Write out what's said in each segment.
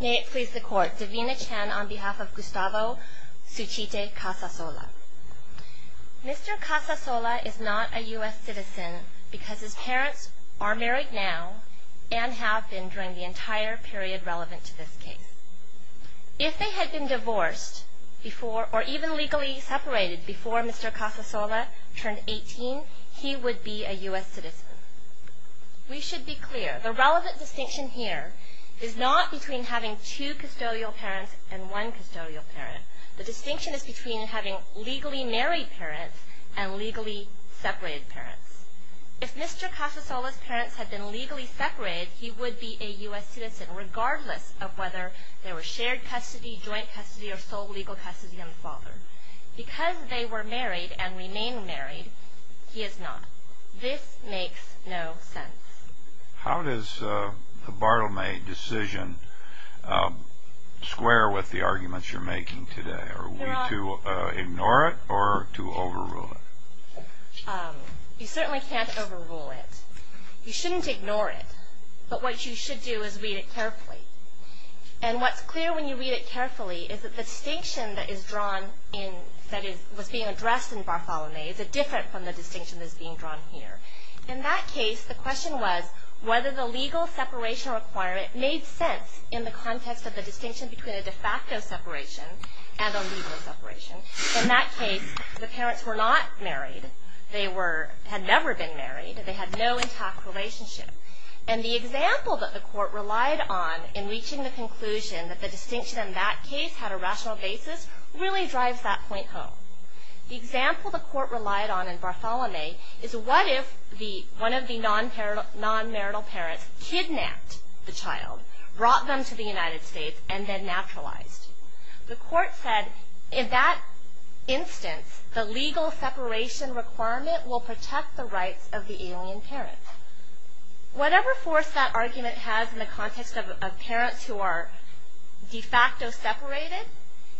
May it please the Court, Davina Chan on behalf of Gustavo Suchite Casasola. Mr. Casasola is not a U.S. citizen because his parents are married now and have been during the entire period relevant to this case. If they had been divorced or even legally separated before Mr. Casasola turned 18, he would be a U.S. citizen. We should be clear, the relevant distinction here is not between having two custodial parents and one custodial parent. The distinction is between having legally married parents and legally separated parents. If Mr. Casasola's parents had been legally separated, he would be a U.S. citizen regardless of whether they were shared custody, joint custody, or sole legal custody of the father. Because they were married and remain married, he is not. This makes no sense. How does the Bartholomew decision square with the arguments you're making today? Are we to ignore it or to overrule it? You certainly can't overrule it. You shouldn't ignore it, but what you should do is read it carefully. And what's clear when you read it carefully is that the distinction that is being addressed in Bartholomew is different from the distinction that is being drawn here. In that case, the question was whether the legal separation requirement made sense in the context of the distinction between a de facto separation and a legal separation. In that case, the parents were not married. They had never been married. They had no intact relationship. And the example that the court relied on in reaching the conclusion that the distinction in that case had a rational basis really drives that point home. The example the court relied on in Bartholomew is what if one of the non-marital parents kidnapped the child, brought them to the United States, and then naturalized? The court said in that instance, the legal separation requirement will protect the rights of the alien parent. Whatever force that argument has in the context of parents who are de facto separated,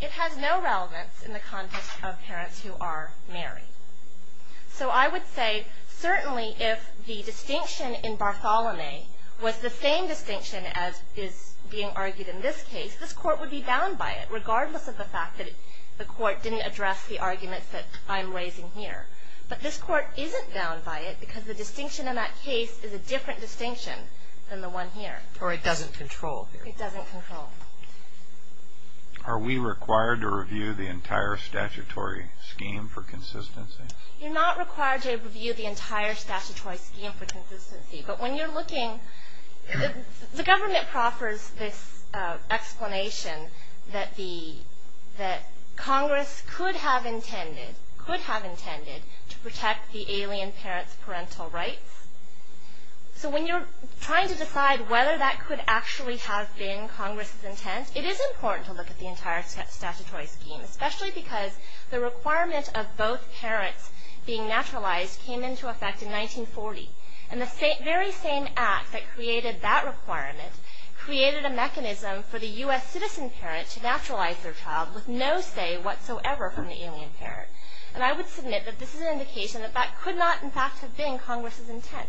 it has no relevance in the context of parents who are married. So I would say certainly if the distinction in Bartholomew was the same distinction as is being argued in this case, this court would be bound by it, regardless of the fact that the court didn't address the arguments that I'm raising here. But this court isn't bound by it because the distinction in that case is a different distinction than the one here. Or it doesn't control. It doesn't control. Are we required to review the entire statutory scheme for consistency? You're not required to review the entire statutory scheme for consistency. But when you're looking, the government proffers this explanation that Congress could have intended to protect the alien parent's parental rights. So when you're trying to decide whether that could actually have been Congress's intent, it is important to look at the entire statutory scheme, especially because the requirement of both parents being naturalized came into effect in 1940. And the very same act that created that requirement created a mechanism for the U.S. citizen parent to naturalize their child with no say whatsoever from the alien parent. And I would submit that this is an indication that that could not, in fact, have been Congress's intent.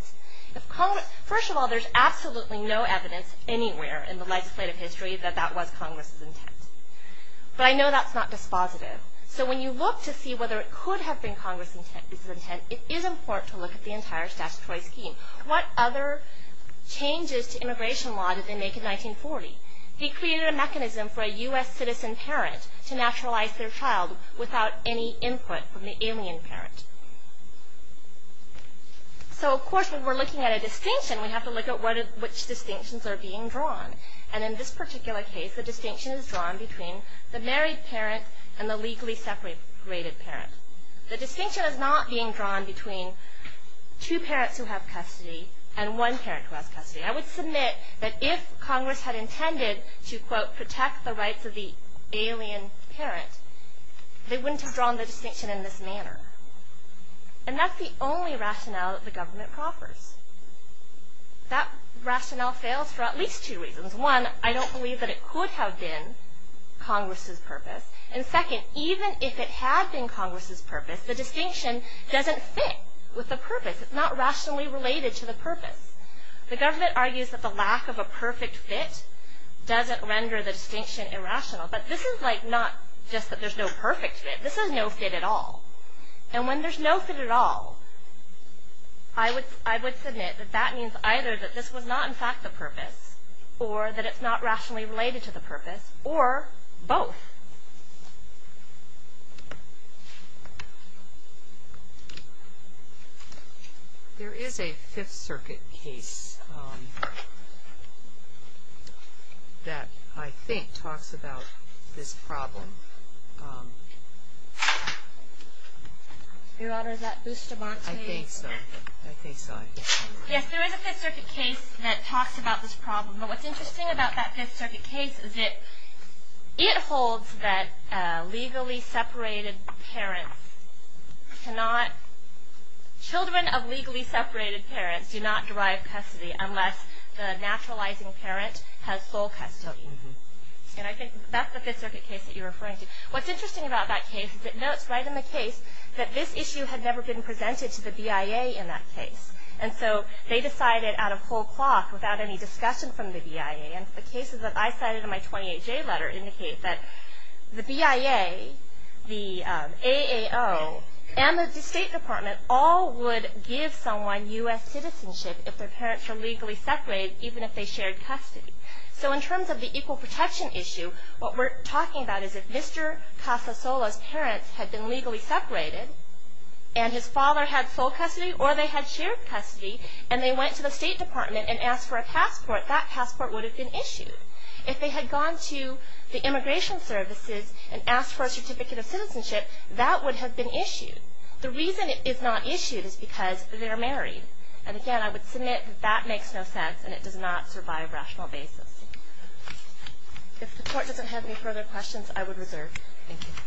First of all, there's absolutely no evidence anywhere in the legislative history that that was Congress's intent. But I know that's not dispositive. So when you look to see whether it could have been Congress's intent, it is important to look at the entire statutory scheme. What other changes to immigration law did they make in 1940? They created a mechanism for a U.S. citizen parent to naturalize their child without any input from the alien parent. So, of course, when we're looking at a distinction, we have to look at which distinctions are being drawn. And in this particular case, the distinction is drawn between the married parent and the legally separated parent. The distinction is not being drawn between two parents who have custody and one parent who has custody. I would submit that if Congress had intended to, quote, protect the rights of the alien parent, they wouldn't have drawn the distinction in this manner. And that's the only rationale that the government proffers. That rationale fails for at least two reasons. One, I don't believe that it could have been Congress's purpose. And second, even if it had been Congress's purpose, the distinction doesn't fit with the purpose. It's not rationally related to the purpose. The government argues that the lack of a perfect fit doesn't render the distinction irrational. But this is like not just that there's no perfect fit. This is no fit at all. And when there's no fit at all, I would submit that that means either that this was not in fact the purpose or that it's not rationally related to the purpose or both. There is a Fifth Circuit case that I think talks about this problem. Your Honor, is that Bustamante? I think so. I think so. Yes, there is a Fifth Circuit case that talks about this problem. But what's interesting about that Fifth Circuit case is that it holds that legally separated parents cannot children of legally separated parents do not derive custody unless the naturalizing parent has full custody. And I think that's the Fifth Circuit case that you're referring to. What's interesting about that case is it notes right in the case that this issue had never been presented to the BIA in that case. And so they decided at a full clock without any discussion from the BIA. And the cases that I cited in my 28-J letter indicate that the BIA, the AAO, and the State Department all would give someone U.S. citizenship if their parents were legally separated even if they shared custody. So in terms of the equal protection issue, what we're talking about is if Mr. Casasola's parents had been legally separated and his father had full custody or they had shared custody and they went to the State Department and asked for a passport, that passport would have been issued. If they had gone to the immigration services and asked for a certificate of citizenship, that would have been issued. The reason it is not issued is because they're married. And again, I would submit that that makes no sense and it does not survive rational basis. If the Court doesn't have any further questions, I would reserve. Thank you. Thank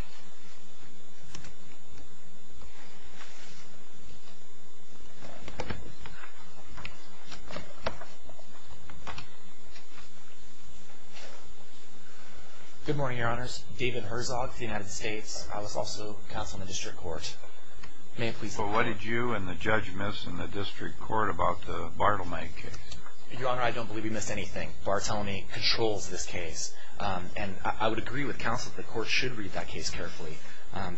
you. Good morning, Your Honors. David Herzog for the United States. I was also counsel in the District Court. May I please have the floor? Well, what did you and the judge miss in the District Court about the Bartlemey case? Your Honor, I don't believe we missed anything. Bartlemey controls this case. And I would agree with counsel that the Court should read that case carefully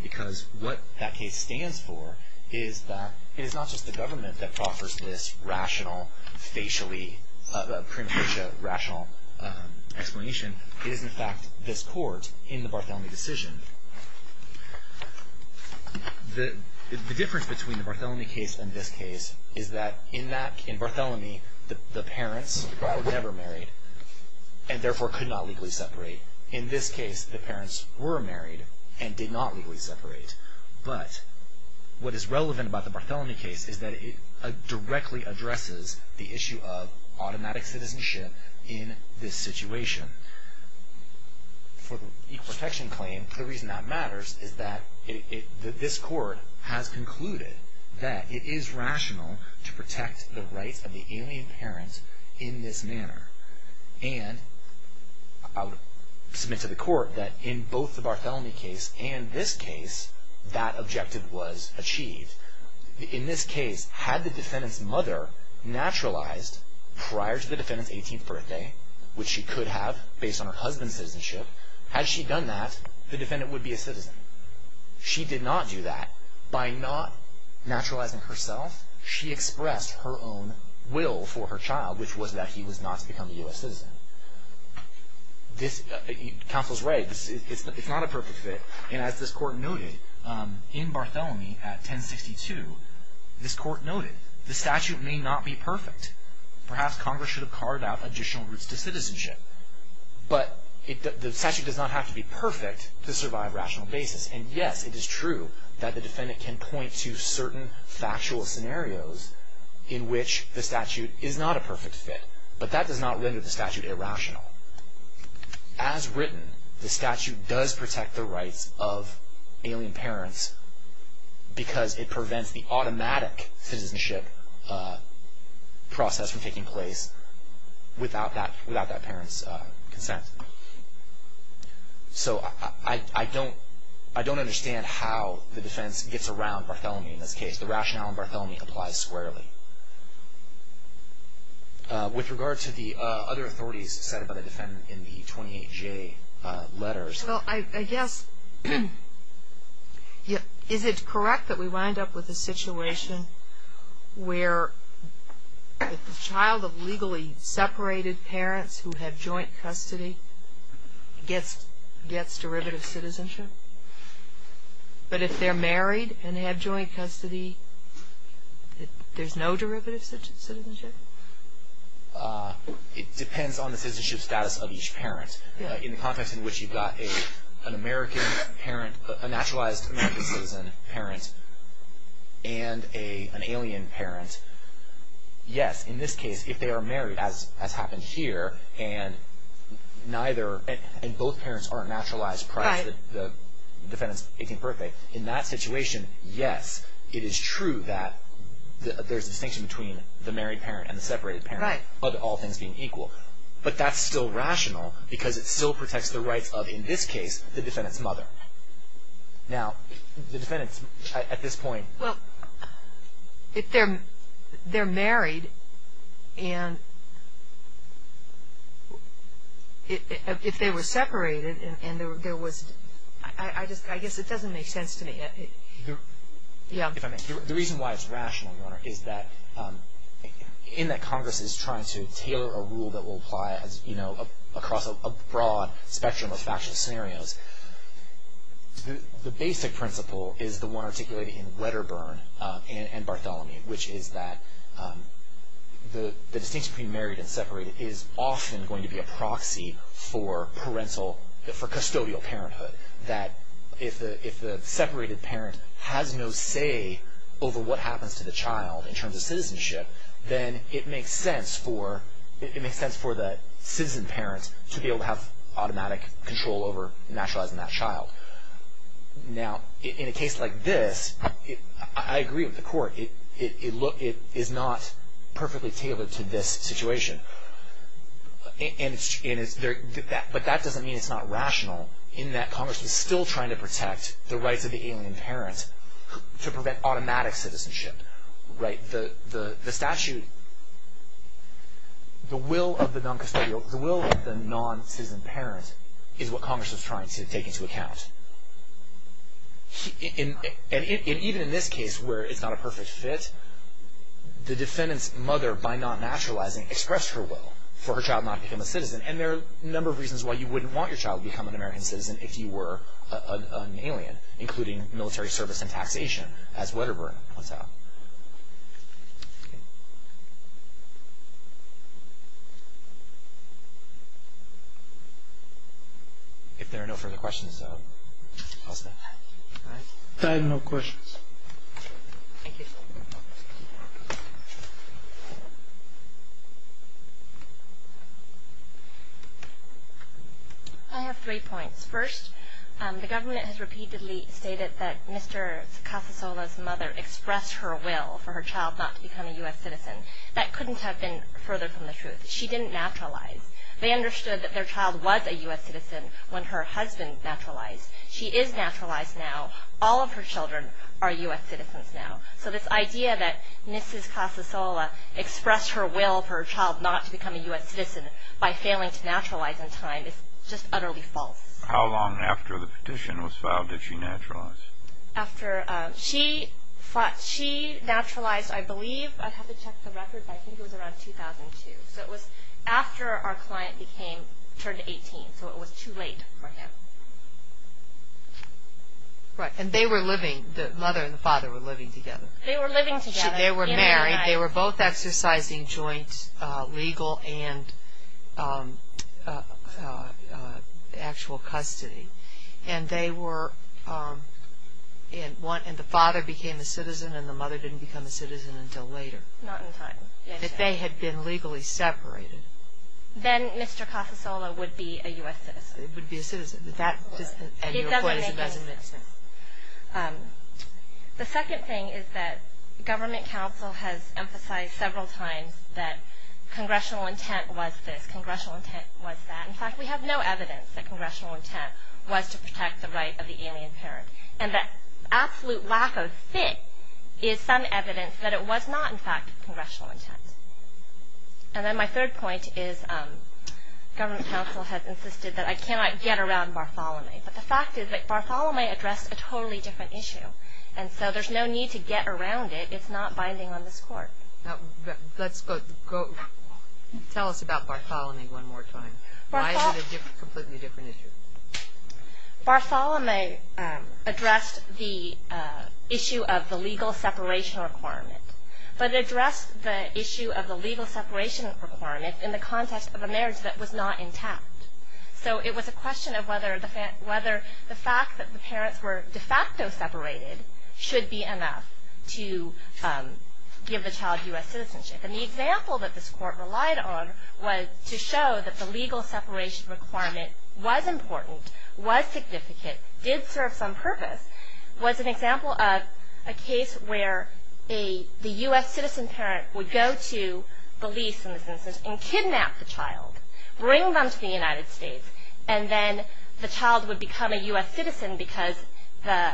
because what that case stands for is that it is not just the government that offers this rational, facially, premature rational explanation. It is, in fact, this Court in the Bartlemey decision. The difference between the Bartlemey case and this case is that in Bartlemey, the parents were never married and therefore could not legally separate. In this case, the parents were married and did not legally separate. But what is relevant about the Bartlemey case is that it directly addresses the issue of automatic citizenship in this situation. For the equal protection claim, the reason that matters is that this Court has concluded that it is rational to protect the rights of the alien parents in this manner. And I would submit to the Court that in both the Bartlemey case and this case, that objective was achieved. In this case, had the defendant's mother naturalized prior to the defendant's 18th birthday, which she could have based on her husband's citizenship, had she done that, the defendant would be a citizen. She did not do that. By not naturalizing herself, she expressed her own will for her child, which was that he was not to become a U.S. citizen. Counsel's right, it's not a perfect fit. And as this Court noted, in Bartlemey at 1062, this Court noted, the statute may not be perfect. Perhaps Congress should have carved out additional routes to citizenship. But the statute does not have to be perfect to survive rational basis. And yes, it is true that the defendant can point to certain factual scenarios in which the statute is not a perfect fit. But that does not render the statute irrational. As written, the statute does protect the rights of alien parents because it prevents the automatic citizenship process from taking place without that parent's consent. So I don't understand how the defense gets around Bartlemey in this case. The rationale in Bartlemey applies squarely. With regard to the other authorities set up by the defendant in the 28J letters. Well, I guess, is it correct that we wind up with a situation where the child of legally separated parents who have joint custody gets derivative citizenship? But if they're married and have joint custody, there's no derivative citizenship? It depends on the citizenship status of each parent. In the context in which you've got an American parent, a naturalized American citizen parent, and an alien parent, yes, in this case, if they are married, as happened here, and both parents aren't naturalized prior to the defendant's 18th birthday, in that situation, yes, it is true that there's a distinction between the married parent and the separated parent, of all things being equal. But that's still rational because it still protects the rights of, in this case, the defendant's mother. Now, the defendant's, at this point. Well, if they're married and if they were separated and there was, I guess it doesn't make sense to me. The reason why it's rational, Your Honor, is that, in that Congress is trying to tailor a rule that will apply, you know, across a broad spectrum of factual scenarios, the basic principle is the one articulated in Wedderburn and Bartholomew, which is that the distinction between married and separated is often going to be a proxy for parental, for custodial parenthood. That if the separated parent has no say over what happens to the child in terms of citizenship, then it makes sense for the citizen parent to be able to have automatic control over naturalizing that child. Now, in a case like this, I agree with the Court. It is not perfectly tailored to this situation. But that doesn't mean it's not rational in that Congress is still trying to protect the rights of the alien parent to prevent automatic citizenship, right? The statute, the will of the non-custodial, the will of the non-citizen parent is what Congress is trying to take into account. And even in this case where it's not a perfect fit, the defendant's mother, by not naturalizing, expressed her will for her child not to become a citizen. And there are a number of reasons why you wouldn't want your child to become an American citizen if you were an alien, including military service and taxation, as Wedderburn puts out. If there are no further questions, I'll stop. I have no questions. Thank you. I have three points. First, the government has repeatedly stated that Mr. Casasola's mother expressed her will for her child not to become a U.S. citizen. That couldn't have been further from the truth. She didn't naturalize. They understood that their child was a U.S. citizen when her husband naturalized. She is naturalized now. All of her children are U.S. citizens now. So this idea that Mrs. Casasola expressed her will for her child not to become a U.S. citizen by failing to naturalize in time is just utterly false. How long after the petition was filed did she naturalize? After she naturalized, I believe, I have to check the record, but I think it was around 2002. So it was after our client became, turned 18. So it was too late for him. Right. And they were living, the mother and the father were living together. They were living together. They were married. They were both exercising joint legal and actual custody. And they were, and the father became a citizen and the mother didn't become a citizen until later. Not in time. If they had been legally separated. Then Mr. Casasola would be a U.S. citizen. And your point is it doesn't make sense. The second thing is that government counsel has emphasized several times that congressional intent was this. Congressional intent was that. In fact, we have no evidence that congressional intent was to protect the right of the alien parent. And the absolute lack of fit is some evidence that it was not, in fact, congressional intent. And then my third point is government counsel has insisted that I cannot get around Bartholomew. But the fact is that Bartholomew addressed a totally different issue. And so there's no need to get around it. It's not binding on this court. Let's go, tell us about Bartholomew one more time. Why is it a completely different issue? Bartholomew addressed the issue of the legal separation requirement. But it addressed the issue of the legal separation requirement in the context of a marriage that was not intact. So it was a question of whether the fact that the parents were de facto separated should be enough to give the child U.S. citizenship. And the example that this court relied on was to show that the legal separation requirement was important, was significant, did serve some purpose, was an example of a case where the U.S. citizen parent would go to the lease, in this instance, and kidnap the child, bring them to the United States, and then the child would become a U.S. citizen because the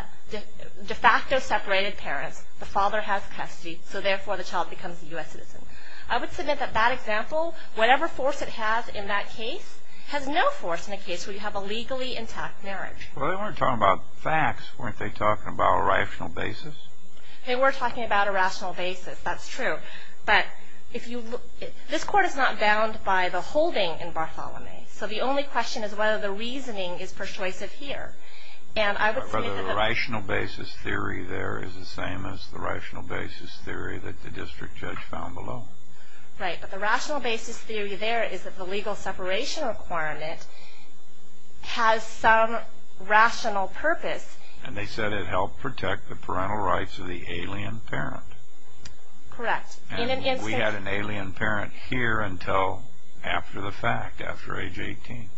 de facto separated parents, the father has custody, so therefore the child becomes a U.S. citizen. I would submit that that example, whatever force it has in that case, has no force in a case where you have a legally intact marriage. Well, they weren't talking about facts. Weren't they talking about a rational basis? They were talking about a rational basis. That's true. But if you look, this court is not bound by the holding in Bartholomew. So the only question is whether the reasoning is persuasive here. And I would submit that the rational basis theory there is the same as the rational basis theory that the district judge found below. Right. But the rational basis theory there is that the legal separation requirement has some rational purpose. And they said it helped protect the parental rights of the alien parent. Correct. And we had an alien parent here until after the fact, after age 18.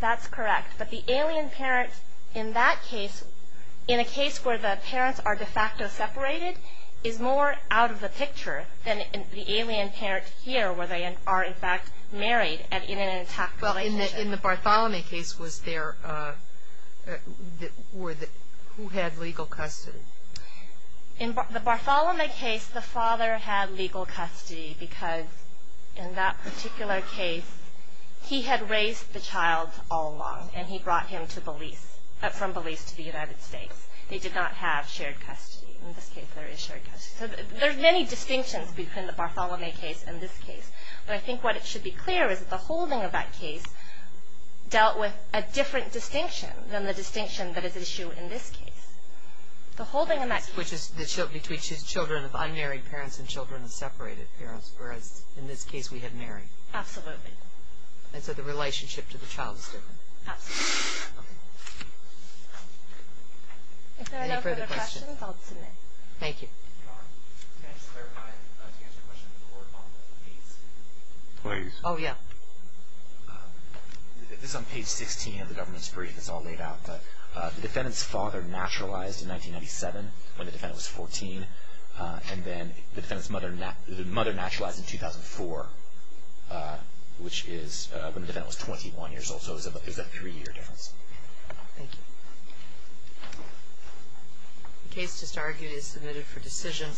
That's correct. But the alien parent in that case, in a case where the parents are de facto separated, is more out of the picture than the alien parent here, where they are, in fact, married in an intact relationship. Well, in the Bartholomew case, was there or who had legal custody? In the Bartholomew case, the father had legal custody because in that particular case, he had raised the child all along, and he brought him to Belize, from Belize to the United States. They did not have shared custody. In this case, there is shared custody. So there are many distinctions between the Bartholomew case and this case. But I think what should be clear is that the holding of that case dealt with a different distinction than the distinction that is issued in this case. The holding in that case. Which is between children of unmarried parents and children of separated parents, whereas in this case, we had married. Absolutely. And so the relationship to the child is different. Absolutely. Okay. If there are no further questions, I'll submit. Thank you. Can I just clarify, to answer your question before, on the case? Please. Oh, yeah. This is on page 16 of the government's brief. It's all laid out. The defendant's father naturalized in 1997, when the defendant was 14. And then the mother naturalized in 2004, which is when the defendant was 21 years old. So there's a three-year difference. Thank you. The case just argued is submitted for decision.